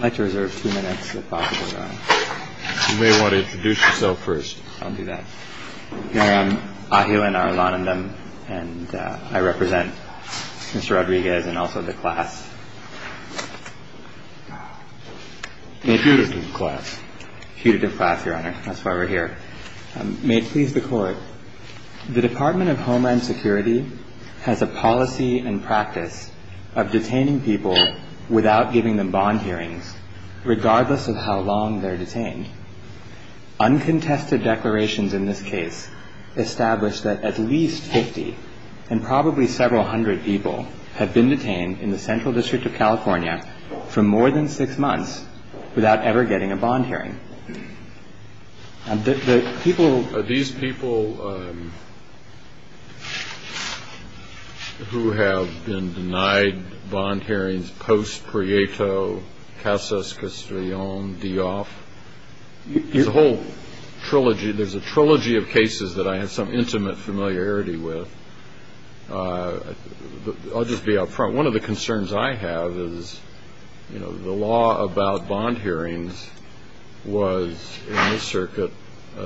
May it please the Court, the Department of Homeland Security has a policy and practice of detaining people without giving them bond hearings, regardless of how long they're detained. Uncontested declarations in this case establish that at least 50 and probably several hundred people have been detained in the Central District of California for more than six months without ever getting a bond hearing. These people who have been denied bond hearings post Prieto, Casas, Castellon, Dioff, there's a whole trilogy, there's a trilogy of cases that I have some intimate familiarity with. I'll just be up front, one of the concerns I have is the law about bond hearings was in this circuit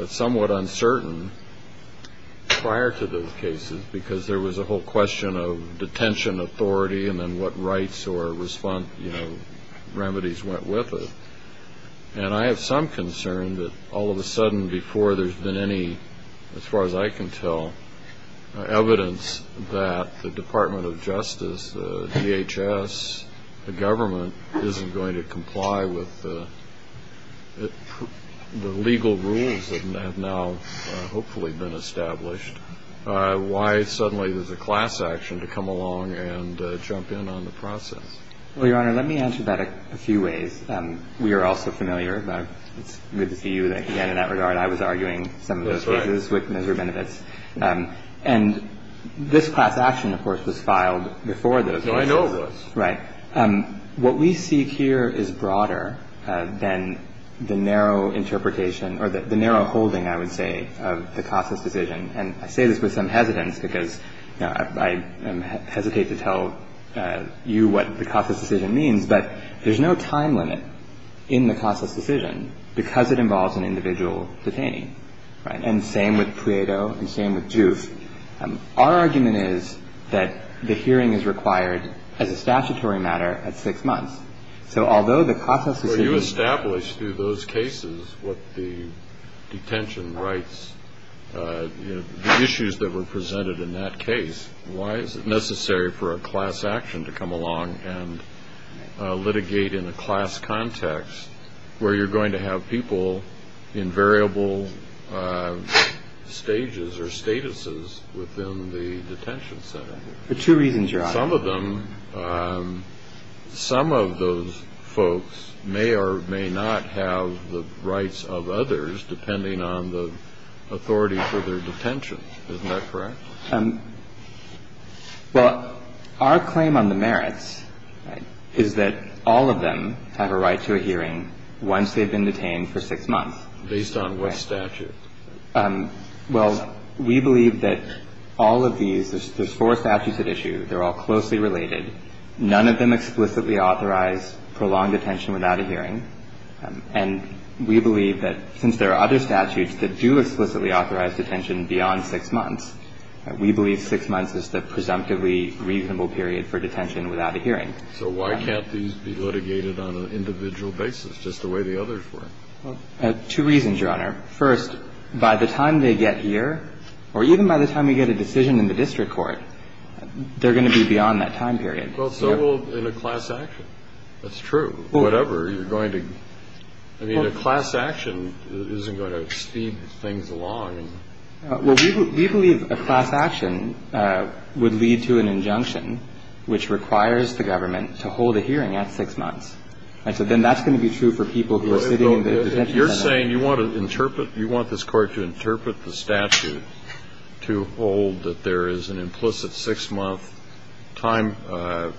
somewhat uncertain prior to those cases because there was a whole question of detention authority and then what rights or remedies went with it. And I have some concern that all of a sudden before there's been any, as far as I can tell, evidence that the Department of Justice, DHS, the government isn't going to comply with the legal rules that have now hopefully been established, why suddenly there's a class action to come along and jump in on the process. Well, Your Honor, let me answer that a few ways. We are all so familiar. It's good to see you again in that regard. I was arguing some of those cases with Mr. Benevitz. And this class action, of course, was filed before those cases. I know it was. Right. What we seek here is broader than the narrow interpretation or the narrow holding, I would say, of the Casas decision. And I say this with some hesitance because I hesitate to tell you what the Casas decision means. But there's no time limit in the Casas decision because it involves an individual detainee. Right. And same with Prieto and same with Giuffre. Our argument is that the hearing is required as a statutory matter at six months. So although the Casas decision was established through those cases, what the detention rights, the issues that were presented in that case, why is it necessary for a class action to come along and litigate in a class context where you're going to have people in variable stages or statuses within the detention center? For two reasons, Your Honor. Some of them, some of those folks may or may not have the rights of others depending on the authority for their detention. Isn't that correct? Well, our claim on the merits is that all of them have a right to a hearing once they've been detained for six months. Based on what statute? Well, we believe that all of these, there's four statutes at issue. They're all closely related. None of them explicitly authorize prolonged detention without a hearing. And we believe that since there are other statutes that do explicitly authorize detention beyond six months, we believe six months is the presumptively reasonable period for detention without a hearing. So why can't these be litigated on an individual basis just the way the others were? Two reasons, Your Honor. First, by the time they get here, or even by the time we get a decision in the district court, they're going to be beyond that time period. Well, so will in a class action. That's true. Whatever you're going to, I mean, a class action isn't going to speed things along. Well, we believe a class action would lead to an injunction which requires the government to hold a hearing at six months. And so then that's going to be true for people who are sitting in the detention center. So you're saying you want to interpret, you want this Court to interpret the statute to hold that there is an implicit six-month time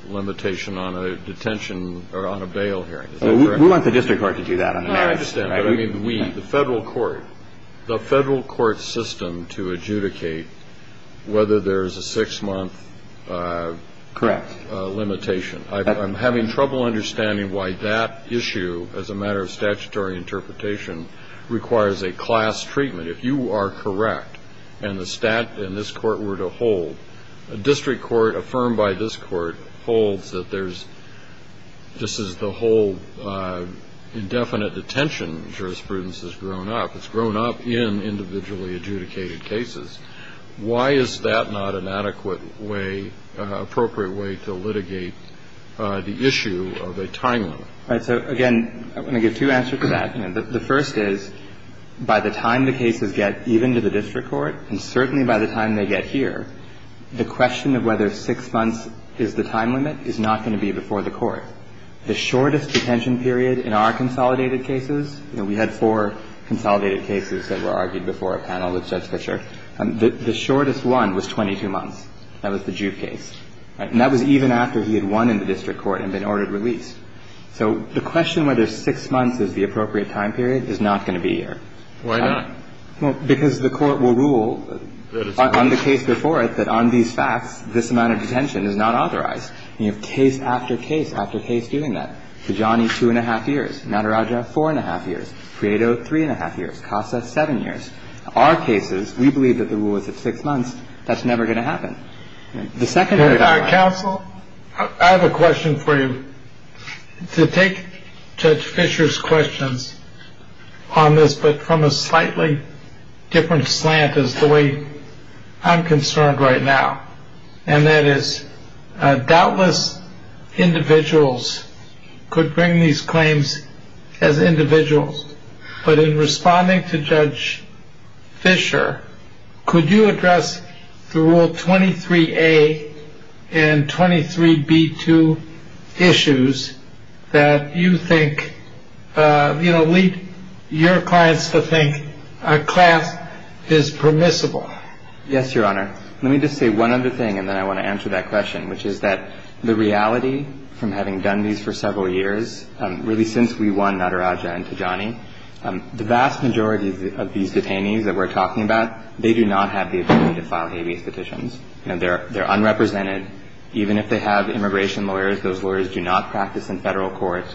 limitation on a detention or on a bail hearing. Is that correct? We want the district court to do that. I understand. But I mean, we, the Federal court, the Federal court system to adjudicate whether there is a six-month limitation. Correct. I'm having trouble understanding why that issue, as a matter of statutory interpretation, requires a class treatment. If you are correct and the statute and this Court were to hold, a district court affirmed by this Court holds that there's, this is the whole indefinite detention jurisprudence has grown up. It's grown up in individually adjudicated cases. Why is that not an adequate way, appropriate way to litigate the issue of a time limit? All right. So, again, I'm going to give two answers to that. The first is, by the time the cases get even to the district court, and certainly by the time they get here, the question of whether six months is the time limit is not going to be before the Court. The shortest detention period in our consolidated cases, we had four consolidated cases that were argued before a panel with Judge Fischer, the shortest one was 22 months. That was the Juve case. And that was even after he had won in the district court and been ordered release. So the question whether six months is the appropriate time period is not going to be here. Why not? Well, because the Court will rule on the case before it that on these facts, this amount of detention is not authorized. And you have case after case after case doing that. Kajani, two-and-a-half years. Maderaja, four-and-a-half years. Prieto, three-and-a-half years. Kassa, seven years. Our cases, we believe that the rule was at six months. That's never going to happen. The second paragraph. Counsel, I have a question for you. To take Judge Fischer's questions on this, but from a slightly different slant as the way I'm concerned right now, and that is doubtless individuals could bring these claims as individuals, but in responding to Judge Fischer, could you address the Rule 23A and 23B2 issues that you think, you know, lead your clients to think a class is permissible? Yes, Your Honor. Let me just say one other thing, and then I want to answer that question, which is that the reality from having done these for several years, really since we won Maderaja and Kajani, the vast majority of these detainees that we're talking about, they do not have the ability to file habeas petitions. You know, they're unrepresented. Even if they have immigration lawyers, those lawyers do not practice in federal court.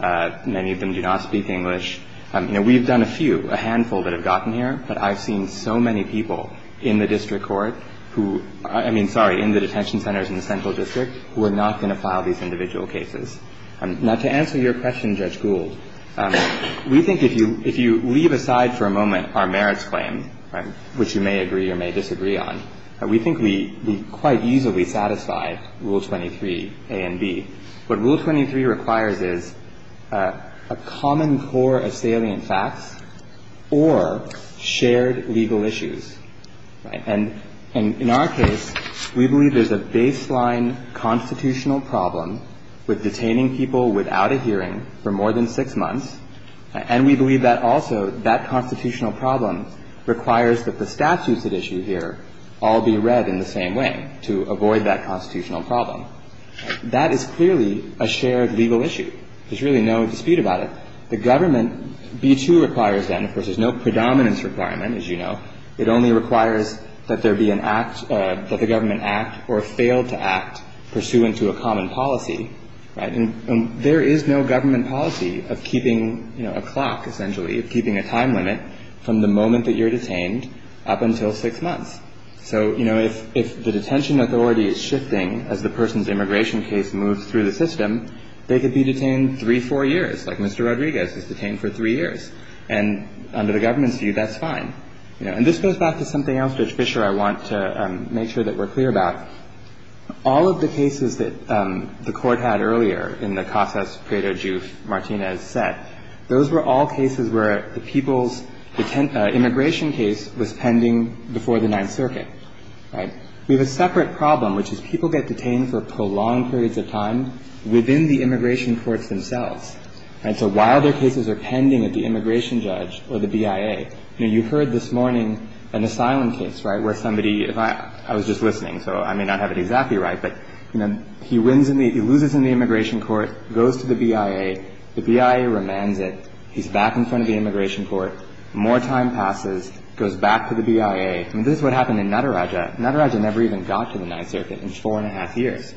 Many of them do not speak English. You know, we've done a few, a handful that have gotten here, but I've seen so many people in the district court who – I mean, sorry, in the detention centers in the central district who are not going to file these individual cases. Now, to answer your question, Judge Gould, we think if you leave aside for a moment our merits claim, which you may agree or may disagree on, we think we quite easily satisfy Rule 23A and 23B. What Rule 23 requires is a common core of salient facts or shared legal issues. And in our case, we believe there's a baseline constitutional problem with detaining people without a hearing for more than six months, and we believe that also that constitutional problem requires that the statutes at issue here all be read in the same way to avoid that constitutional problem. That is clearly a shared legal issue. There's really no dispute about it. The government – B-2 requires that. Of course, there's no predominance requirement, as you know. It only requires that there be an act – that the government act or fail to act pursuant to a common policy, right? And there is no government policy of keeping, you know, a clock, essentially, of keeping a time limit from the moment that you're detained up until six months. So, you know, if the detention authority is shifting as the person's immigration case moves through the system, they could be detained three, four years, like Mr. Rodriguez was detained for three years. And under the government's view, that's fine. You know, and this goes back to something else, Judge Fischer, I want to make sure that we're clear about. All of the cases that the Court had earlier in the Casas Prieto Juf Martinez set, those were all cases where the people's immigration case was pending before the Ninth Circuit, right? We have a separate problem, which is people get detained for prolonged periods of time within the immigration courts themselves. And so while their cases are pending at the immigration judge or the BIA, you know, you heard this morning an asylum case, right, where somebody – if I – I was just listening, so I may not have it exactly right, but, you know, he wins in the – he loses in the immigration court, goes to the BIA, the BIA remands it, he's back in front of the immigration court, more time passes, goes back to the BIA. I mean, this is what happened in Nataraja. Nataraja never even got to the Ninth Circuit in four and a half years.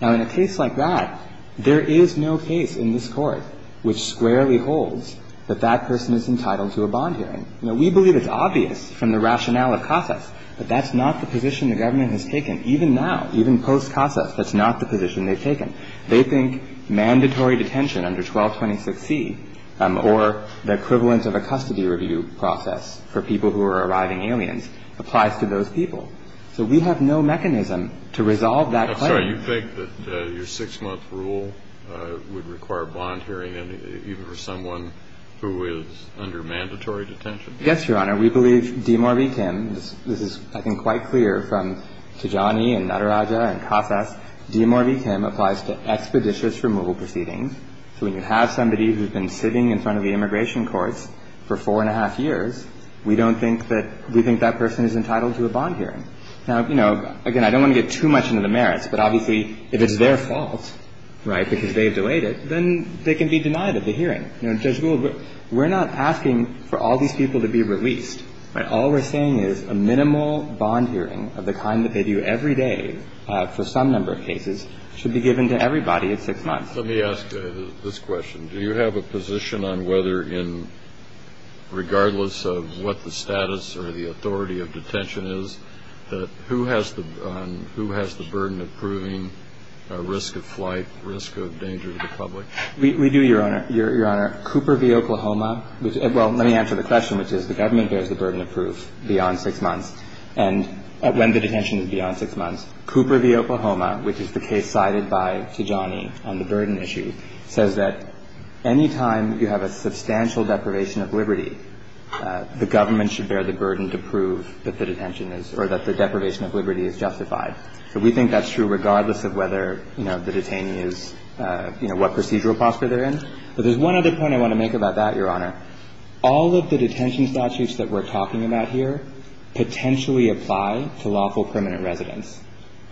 Now, in a case like that, there is no case in this Court which squarely holds that that person is entitled to a bond hearing. You know, we believe it's obvious from the rationale of Casas, but that's not the position the government has taken. Even now, even post-Casas, that's not the position they've taken. They think mandatory detention under 1226C or the equivalence of a custody review process for people who are arriving aliens applies to those people. So we have no mechanism to resolve that claim. So you think that your six-month rule would require a bond hearing, even for someone who is under mandatory detention? Yes, Your Honor. We believe DMR v. Kim – this is, I think, quite clear from Tajani and Nataraja and Casas – DMR v. Kim applies to expeditious removal proceedings. So when you have somebody who's been sitting in front of the immigration courts for four and a half years, we don't think that – we think that person is entitled to a bond hearing. Now, you know, again, I don't want to get too much into the merits, but obviously if it's their fault, right, because they've delayed it, then they can be denied of the hearing. You know, Judge Gould, we're not asking for all these people to be released. All we're saying is a minimal bond hearing of the kind that they do every day for some number of cases should be given to everybody at six months. Let me ask this question. Do you have a position on whether in – regardless of what the status or the authority of detention is, that who has the burden of proving risk of flight, risk of danger to the public? We do, Your Honor. Your Honor, Cooper v. Oklahoma – well, let me answer the question, which is the government bears the burden of proof beyond six months. And when the detention is beyond six months, Cooper v. Oklahoma, which is the case cited by Tajani on the burden issue, says that any time you have a substantial deprivation of liberty, the government should bear the burden to prove that the detention is – or that the deprivation of liberty is justified. So we think that's true regardless of whether, you know, the detainee is – you know, what procedural posture they're in. But there's one other point I want to make about that, Your Honor. All of the detention statutes that we're talking about here potentially apply to lawful permanent residents.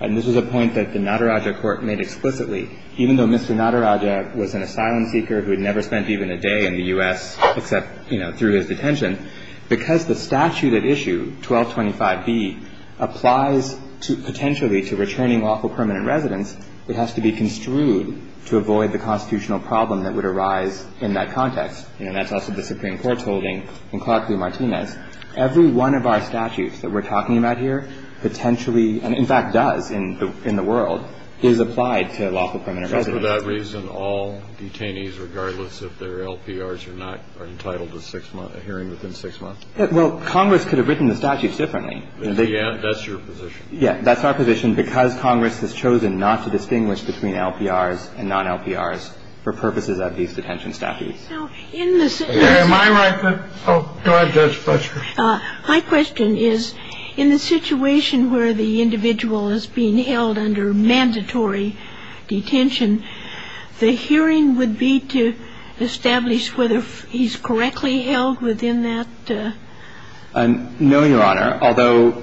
And this is a point that the Nadaraja Court made explicitly. Even though Mr. Nadaraja was an asylum seeker who had never spent even a day in the U.S., except, you know, through his detention, because the statute at issue, 1225b, applies to – potentially to returning lawful permanent residents, it has to be construed to avoid the constitutional problem that would arise in that context. You know, that's also the Supreme Court's holding in Clark v. Martinez. Every one of our statutes that we're talking about here potentially – and in fact does in the world – is applied to lawful permanent residents. And for that reason, all detainees, regardless if they're LPRs or not, are entitled to six-month – a hearing within six months? Well, Congress could have written the statutes differently. Yeah. That's your position. Yeah. That's our position because Congress has chosen not to distinguish between LPRs and non-LPRs for purposes of these detention statutes. Now, in the – Am I right? Oh, go ahead, Judge Fletcher. My question is, in the situation where the individual is being held under mandatory detention, the hearing would be to establish whether he's correctly held within that? No, Your Honor. Although,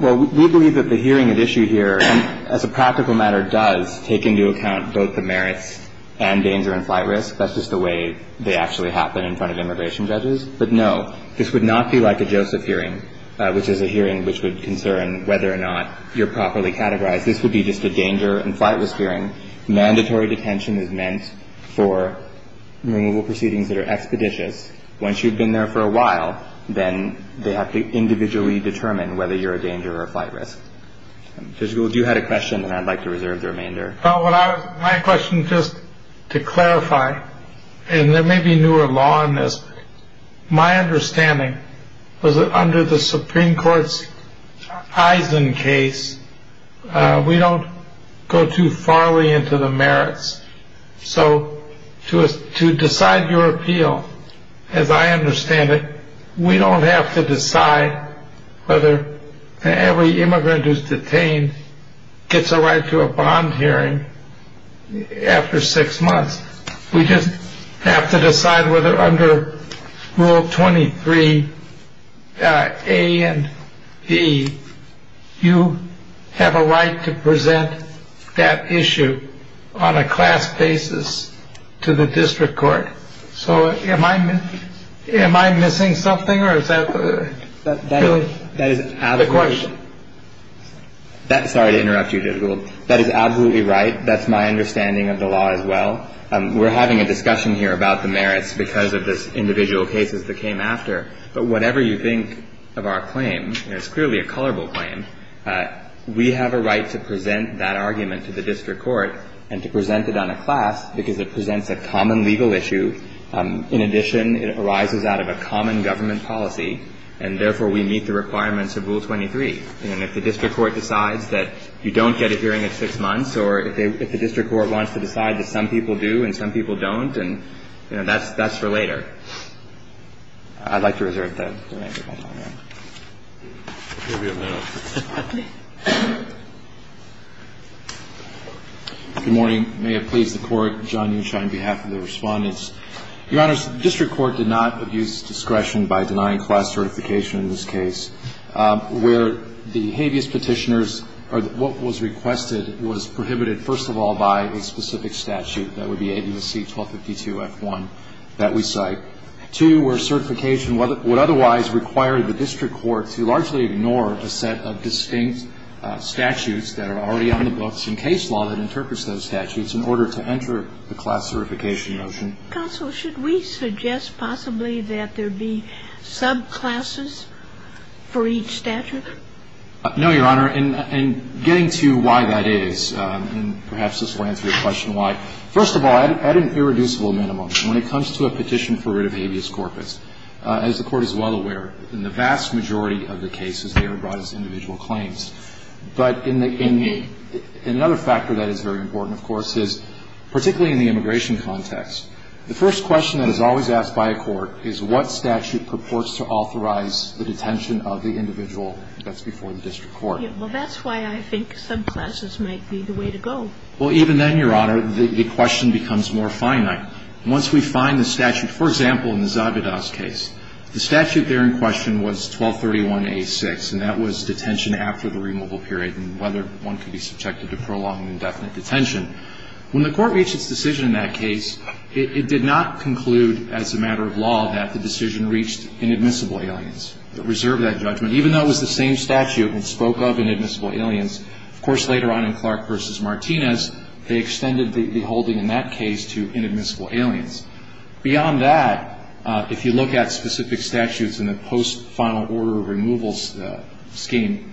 well, we believe that the hearing at issue here, as a practical matter, does take into account both the merits and danger and flight risk. That's just the way they actually happen in front of immigration judges. But, no, this would not be like a Joseph hearing, which is a hearing which would concern whether or not you're properly categorized. This would be just a danger and flight risk hearing. Mandatory detention is meant for removal proceedings that are expeditious. Once you've been there for a while, then they have to individually determine whether you're a danger or a flight risk. Judge Gould, you had a question, and I'd like to reserve the remainder. My question, just to clarify, and there may be newer law in this, my understanding was that under the Supreme Court's Eisen case, we don't go too far into the merits. So to decide your appeal, as I understand it, we don't have to decide whether every after six months, we just have to decide whether under Rule 23, A and B, you have a right to present that issue on a class basis to the district court. So am I am I missing something or is that the question? Sorry to interrupt you, Judge Gould. That is absolutely right. That's my understanding of the law as well. We're having a discussion here about the merits because of the individual cases that came after. But whatever you think of our claim, it's clearly a colorable claim. We have a right to present that argument to the district court and to present it on a class because it presents a common legal issue. In addition, it arises out of a common government policy, and therefore, we meet the requirements of Rule 23. And if the district court decides that you don't get a hearing at six months, or if the district court wants to decide that some people do and some people don't, and that's for later. I'd like to reserve that. Give you a minute. Okay. Good morning. May it please the Court. John Unschein on behalf of the Respondents. Your Honors, the district court did not abuse discretion by denying class certification in this case. Where the habeas Petitioners or what was requested was prohibited, first of all, by a specific statute. That would be Habeas C. 1252-F1 that we cite. Two, where certification would otherwise require the district court to largely ignore a set of distinct statutes that are already on the books and case law that interprets those statutes in order to enter the class certification motion. Counsel, should we suggest possibly that there be subclasses for each statute? No, Your Honor. And getting to why that is, and perhaps this will answer your question why, first of all, at an irreducible minimum, when it comes to a petition for writ of habeas corpus, as the Court is well aware, in the vast majority of the cases, they are brought as individual claims. But in the other factor that is very important, of course, is particularly in the immigration context. The first question that is always asked by a court is what statute purports to authorize the detention of the individual that's before the district court. Well, that's why I think subclasses might be the way to go. Well, even then, Your Honor, the question becomes more finite. Once we find the statute, for example, in the Zabidas case, the statute there in question was 1231-A6, and that was detention after the removal period and whether one could be subjected to prolonged indefinite detention. When the Court reached its decision in that case, it did not conclude as a matter of law that the decision reached inadmissible aliens. It reserved that judgment. Even though it was the same statute that spoke of inadmissible aliens, of course, later on in Clark v. Martinez, they extended the holding in that case to inadmissible aliens. Beyond that, if you look at specific statutes in the post-final order of removal scheme,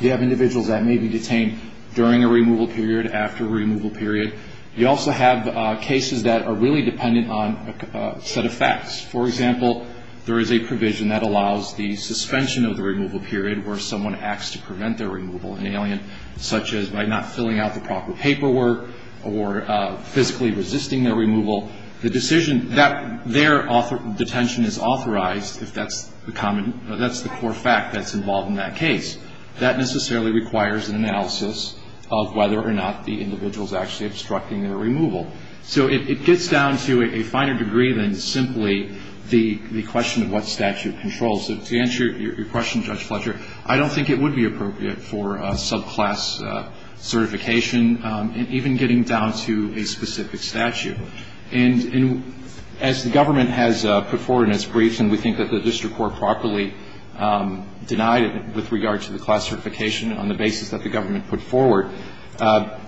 you have individuals that may be detained during a removal period, after a removal period. You also have cases that are really dependent on a set of facts. For example, there is a provision that allows the suspension of the removal period where someone acts to prevent their removal, an alien, such as by not filling out the proper paperwork or physically resisting their removal. The decision that their detention is authorized, if that's the common – that's the core fact that's involved in that case, that necessarily requires an analysis of whether or not the individual is actually obstructing their removal. So it gets down to a finer degree than simply the question of what statute controls. To answer your question, Judge Fletcher, I don't think it would be appropriate for subclass certification, even getting down to a specific statute. And as the government has put forward in its briefs, and we think that the district court properly denied it with regard to the class certification on the basis that the government put forward, to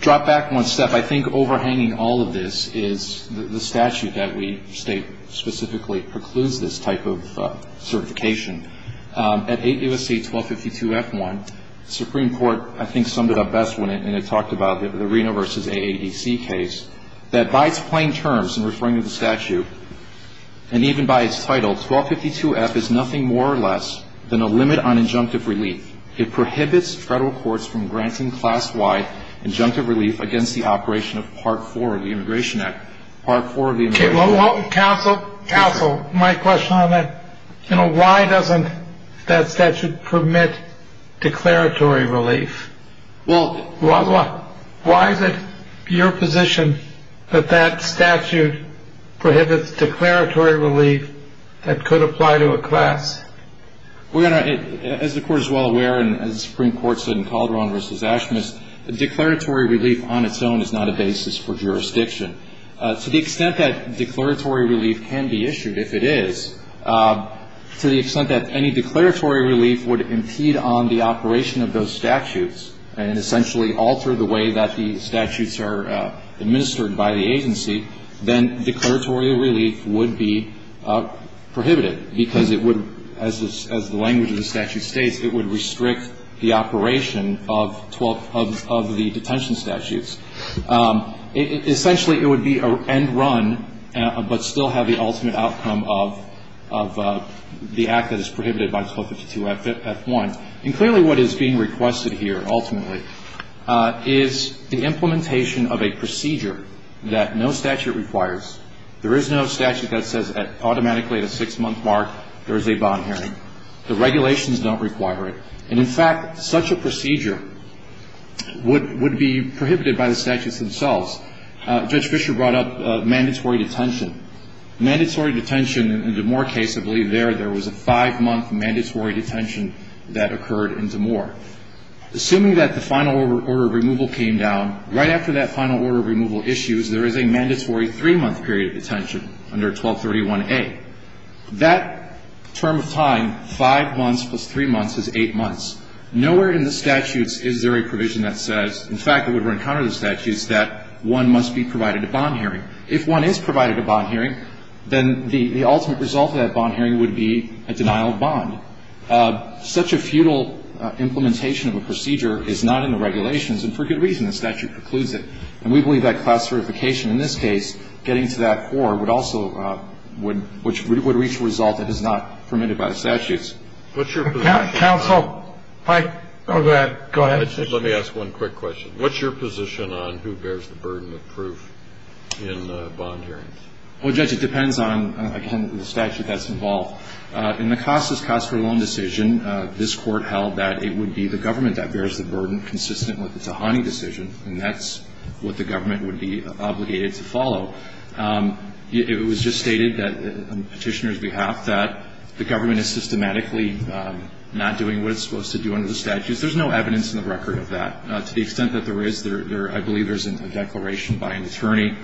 drop back one step, I think overhanging all of this is the statute that we state specifically precludes this type of certification. At 8 U.S.C. 1252-F1, the Supreme Court, I think, summed it up best when it talked about the Reno v. AADC case, that by its plain terms in referring to the statute and even by its title, 1252-F is nothing more or less than a limit on injunctive relief. It prohibits federal courts from granting class-wide injunctive relief against the operation of Part 4 of the Immigration Act. Part 4 of the Immigration Act. Counsel, my question on that, why doesn't that statute permit declaratory relief? Why is it your position that that statute prohibits declaratory relief that could apply to a class? As the Court is well aware, and as the Supreme Court said in Calderon v. Ashmis, declaratory relief on its own is not a basis for jurisdiction. To the extent that declaratory relief can be issued, if it is, to the extent that any declaratory relief would impede on the operation of those statutes and essentially alter the way that the statute states, it would restrict the operation of 12 of the detention statutes. Essentially, it would be an end run, but still have the ultimate outcome of the act that is prohibited by 1252-F1. And clearly, what is being requested here ultimately is the implementation of a procedure that no statute requires. And in fact, such a procedure would be prohibited by the statutes themselves. Judge Fischer brought up mandatory detention. Mandatory detention in the Moore case, I believe there, there was a five-month mandatory detention that occurred in DeMoore. Assuming that the final order of removal came down, right after that final order of removal issues, there is a mandatory three-month period of detention under 1231A. That term of time, five months plus three months, is eight months. Nowhere in the statutes is there a provision that says, in fact, it would run counter to the statutes, that one must be provided a bond hearing. If one is provided a bond hearing, then the ultimate result of that bond hearing would be a denial of bond. Such a futile implementation of a procedure is not in the regulations, and for good reason. The statute precludes it. And we believe that class certification in this case, getting to that four, would also would reach a result that is not permitted by the statutes. What's your position on that? Counsel, I go ahead. Go ahead. Let me ask one quick question. What's your position on who bears the burden of proof in bond hearings? Well, Judge, it depends on, again, the statute that's involved. In McCossa's case, there is no evidence in the record that there is a burden consistent with the Tahani decision, and that's what the government would be obligated to follow. It was just stated that, on Petitioner's behalf, that the government is systematically not doing what it's supposed to do under the statutes. There's no evidence in the record of that. To the extent that there is, I believe there's a declaration by an attorney.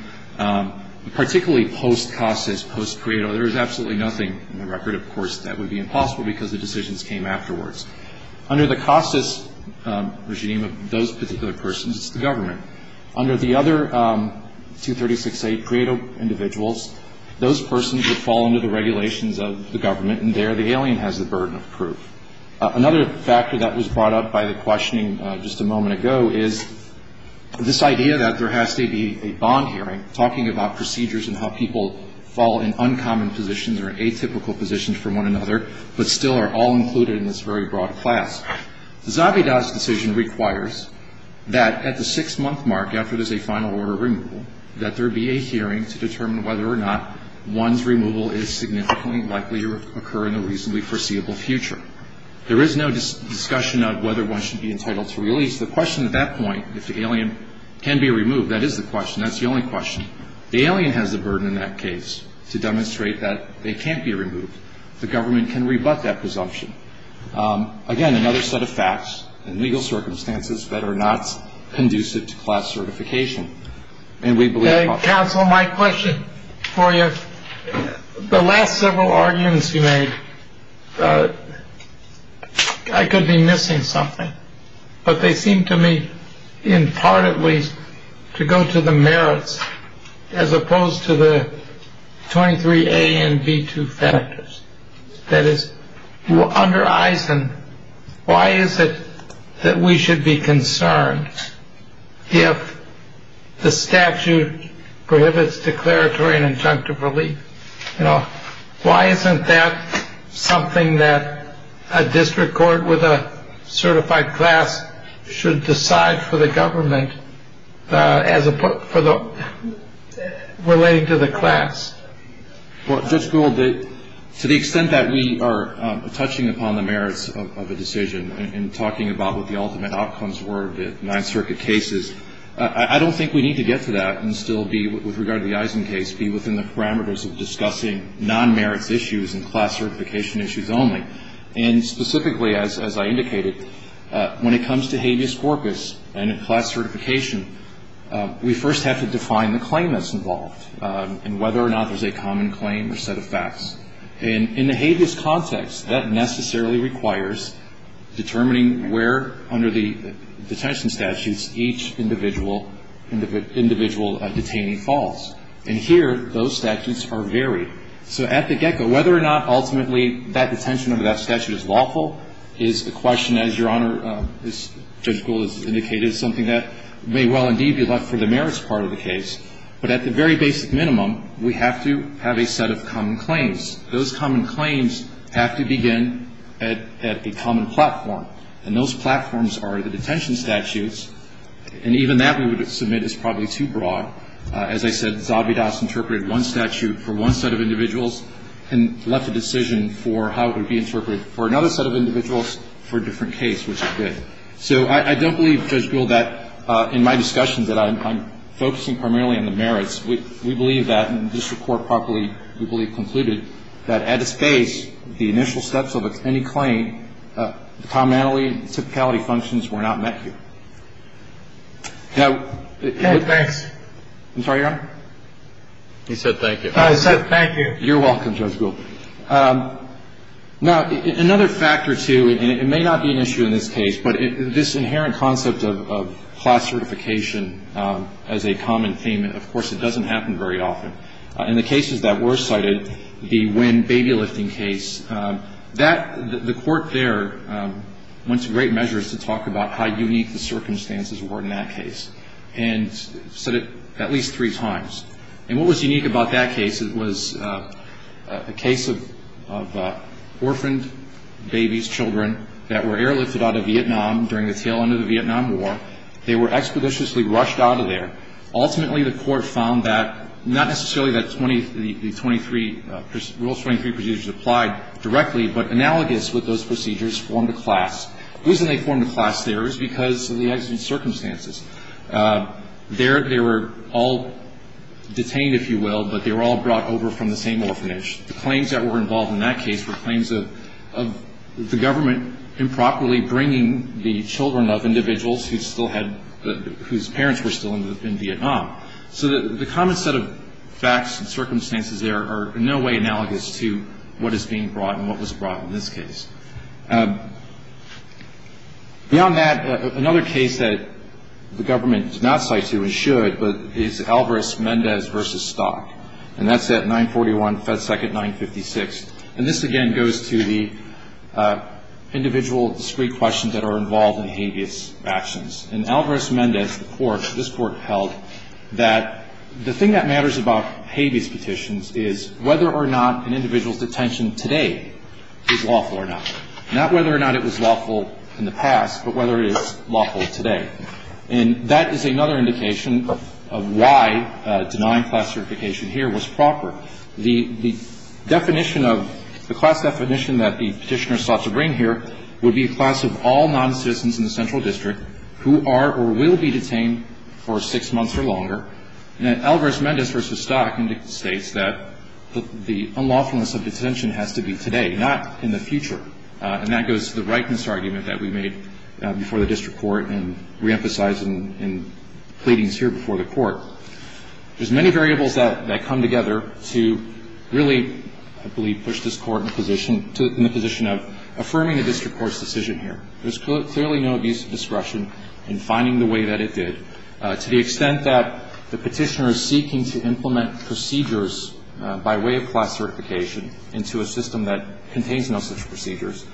Particularly post-Cossas, post-Credo, there is absolutely nothing in the record, of course, that would be impossible because the decisions came afterwards. Under the Cossas regime of those particular persons, it's the government. Under the other 236A Credo individuals, those persons would fall under the regulations of the government, and there the alien has the burden of proof. Another factor that was brought up by the questioning just a moment ago is this idea that there has to be a bond hearing talking about procedures and how people fall in uncommon positions or atypical positions from one another, but still are all included in this very broad class. The Zabidas decision requires that at the six-month mark, after there's a final order of removal, that there be a hearing to determine whether or not one's removal is significantly likely to occur in the reasonably foreseeable future. There is no discussion of whether one should be entitled to release. The question at that point, if the alien can be removed, that is the question. That's the only question. The alien has the burden in that case to demonstrate that they can't be removed. The government can rebut that presumption. Again, another set of facts and legal circumstances that are not conducive to class certification, and we believe... Counsel, my question for you, the last several arguments you made, I could be opposed to the 23A and B2 factors. That is, under EISEN, why is it that we should be concerned if the statute prohibits declaratory and injunctive relief? Why isn't that something that a district court with a certified class should decide for the government, relating to the class? Well, Judge Gould, to the extent that we are touching upon the merits of a decision and talking about what the ultimate outcomes were of the Ninth Circuit cases, I don't think we need to get to that and still be, with regard to the EISEN case, be within the parameters of discussing non-merits issues and class certification issues only. And specifically, as I indicated, when it comes to habeas corpus and class certification, we first have to define the claim that's involved and whether or not there's a common claim or set of facts. And in the habeas context, that necessarily requires determining where, under the detention statutes, each individual detainee falls. And here, those statutes are varied. So at the get-go, whether or not ultimately that detention under that statute is lawful is a question, as Your Honor, as Judge Gould has indicated, is something that may well indeed be left for the merits part of the case. But at the very basic minimum, we have to have a set of common claims. Those common claims have to begin at a common platform. And those platforms are the detention statutes. And even that, we would submit, is probably too broad. As I said, Zabidas interpreted one statute for one set of individuals and left the decision for how it would be interpreted for another set of individuals for a different case, which it did. So I don't believe, Judge Gould, that in my discussions that I'm focusing primarily on the merits, we believe that, and the district court properly, we believe, concluded that at its base, the initial steps of any claim, the commonality and typicality functions were not met here. Now the -- Thanks. I'm sorry, Your Honor? He said thank you. I said thank you. You're welcome, Judge Gould. Now, another factor, too, and it may not be an issue in this case, but this inherent concept of class certification as a common theme, of course, it doesn't happen very often. In the cases that were cited, the Wynn baby lifting case, the court there went to great measures to talk about how unique the circumstances were in that case and said it at least three times. And what was unique about that case, it was a case of orphaned babies, children, that were airlifted out of Vietnam during the tail end of the Vietnam War. They were expeditiously rushed out of Vietnam. Ultimately, the court found that not necessarily that the Rule 23 procedures applied directly, but analogous with those procedures formed a class. The reason they formed a class there is because of the exigent circumstances. They were all detained, if you will, but they were all brought over from the same orphanage. The claims that were involved in that case were claims of the government improperly bringing the children of individuals whose parents were still in Vietnam. So the common set of facts and circumstances there are in no way analogous to what is being brought and what was brought in this case. Beyond that, another case that the government did not cite to and should, but it's Alvarez-Mendez v. Stock. And that's at 941 FedSec at 956. And this, again, goes to the individual discrete questions that are involved in habeas actions. In Alvarez-Mendez, the court, this court held that the thing that matters about habeas petitions is whether or not an individual's detention today is lawful or not. Not whether or not it was lawful in the past, but whether it is lawful today. And that is another indication of why denying class certification here was proper. The definition of, the class definition that the petitioner sought to bring here would be a class of all noncitizens in the central district who are or will be detained for six months or longer. And Alvarez-Mendez v. Stock states that the unlawfulness of detention has to be today, not in the future. And that goes to the rightness argument that we made before the district court and reemphasized in pleadings here before the court. There's many variables that come together to really, I believe, push this court in the position of affirming the district court's decision here. There's clearly no abuse of discretion in finding the way that it did. To the extent that the petitioner is seeking to implement procedures by way of class certification into a system that contains no such procedures,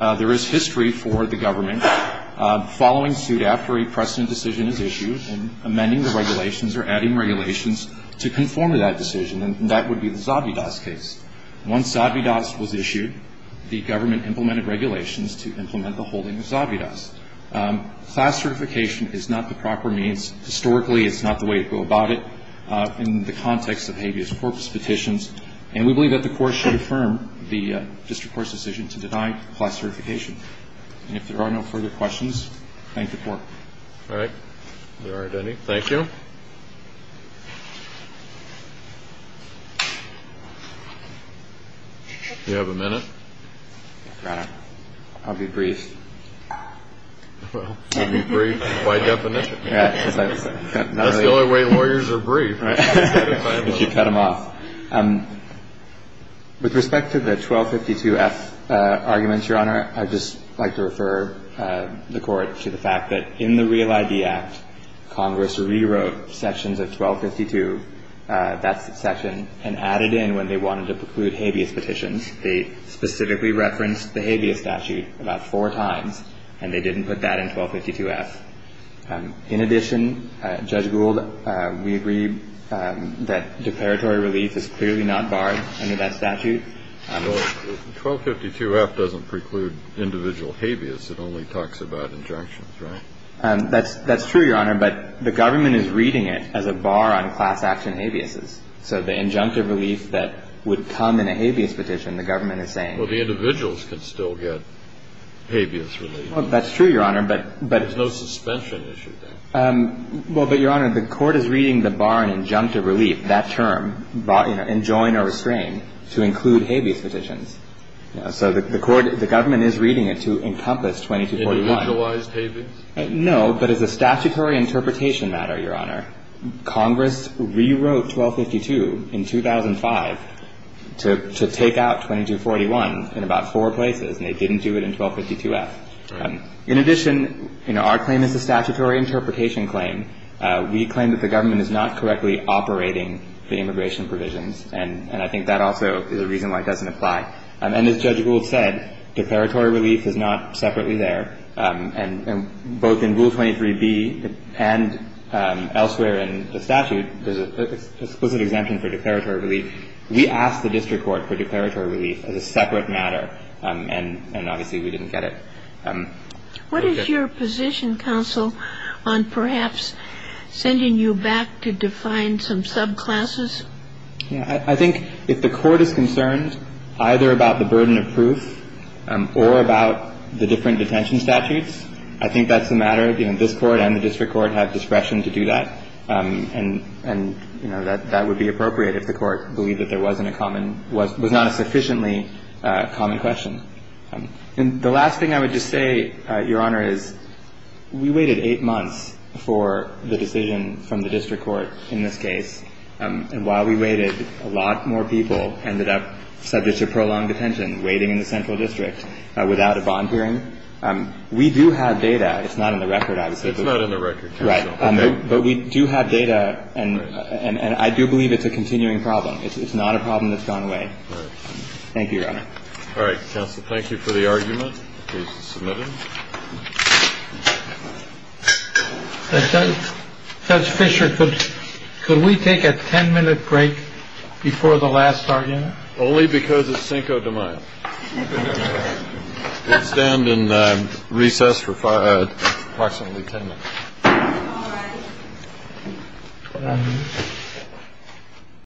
there is history for the government following suit after a precedent decision is issued and amending the regulations or adding regulations to conform to that decision. And that would be the Zavidas case. Once Zavidas was issued, the government implemented regulations to implement the holding of Zavidas. Class certification is not the proper means. Historically, it's not the way to go about it in the context of habeas corpus petitions. And we believe that the court should affirm the district court's decision to deny class certification. And if there are no further questions, thank the court. All right. There aren't any. Thank you. Do you have a minute? Your Honor, I'll be brief. Well, you'll be brief by definition. That's the only way lawyers are brief. Cut them off. With respect to the 1252F arguments, Your Honor, I'd just like to refer the court to the fact that in the Real ID Act, Congress rewrote sections of 1252, that section, and added in when they wanted to preclude habeas petitions. They specifically referenced the habeas statute about four times, and they didn't put that in 1252F. In addition, Judge Gould, we agree that declaratory relief is clearly not barred under that statute. Well, 1252F doesn't preclude individual habeas. It only talks about injunctions, right? That's true, Your Honor, but the government is reading it as a bar on class action habeases. So the injunctive relief that would come in a habeas petition, the government is saying… Well, the individuals can still get habeas relief. Well, that's true, Your Honor, but… There's no suspension issue there. Well, but, Your Honor, the court is reading the bar on injunctive relief, that term, enjoin or restrain, to include habeas petitions. So the court, the government is reading it to encompass 2241. Individualized habeas? No, but as a statutory interpretation matter, Your Honor, Congress rewrote 1252 in 2005 to take out 2241 in about four places, and they didn't do it in 1252F. Right. In addition, you know, our claim is a statutory interpretation claim. We claim that the government is not correctly operating the immigration provisions, and I think that also is a reason why it doesn't apply. And as Judge Gould said, declaratory relief is not separately there, and both in Rule 23B and elsewhere in the statute, there's an explicit exemption for declaratory relief. We asked the district court for declaratory relief as a separate matter, and obviously we didn't get it. What is your position, counsel, on perhaps sending you back to define some subclasses? Yeah. I think if the court is concerned either about the burden of proof or about the different detention statutes, I think that's a matter of, you know, this court and the district court have discretion to do that, and, you know, that would be appropriate if the court believed that there wasn't a common — was not a sufficiently common question. And the last thing I would just say, Your Honor, is we waited eight months for the decision from the district court in this case, and while we waited, a lot more people ended up subject to prolonged detention waiting in the central district without a bond hearing. We do have data. It's not in the record, obviously. It's not in the record. Right. But we do have data, and I do believe it's a continuing problem. Right. Thank you, Your Honor. All right. Counsel, thank you for the argument. Please submit it. Judge Fisher, could we take a 10-minute break before the last argument? Only because it's Cinco de Mayo. We'll stand and recess for approximately 10 minutes.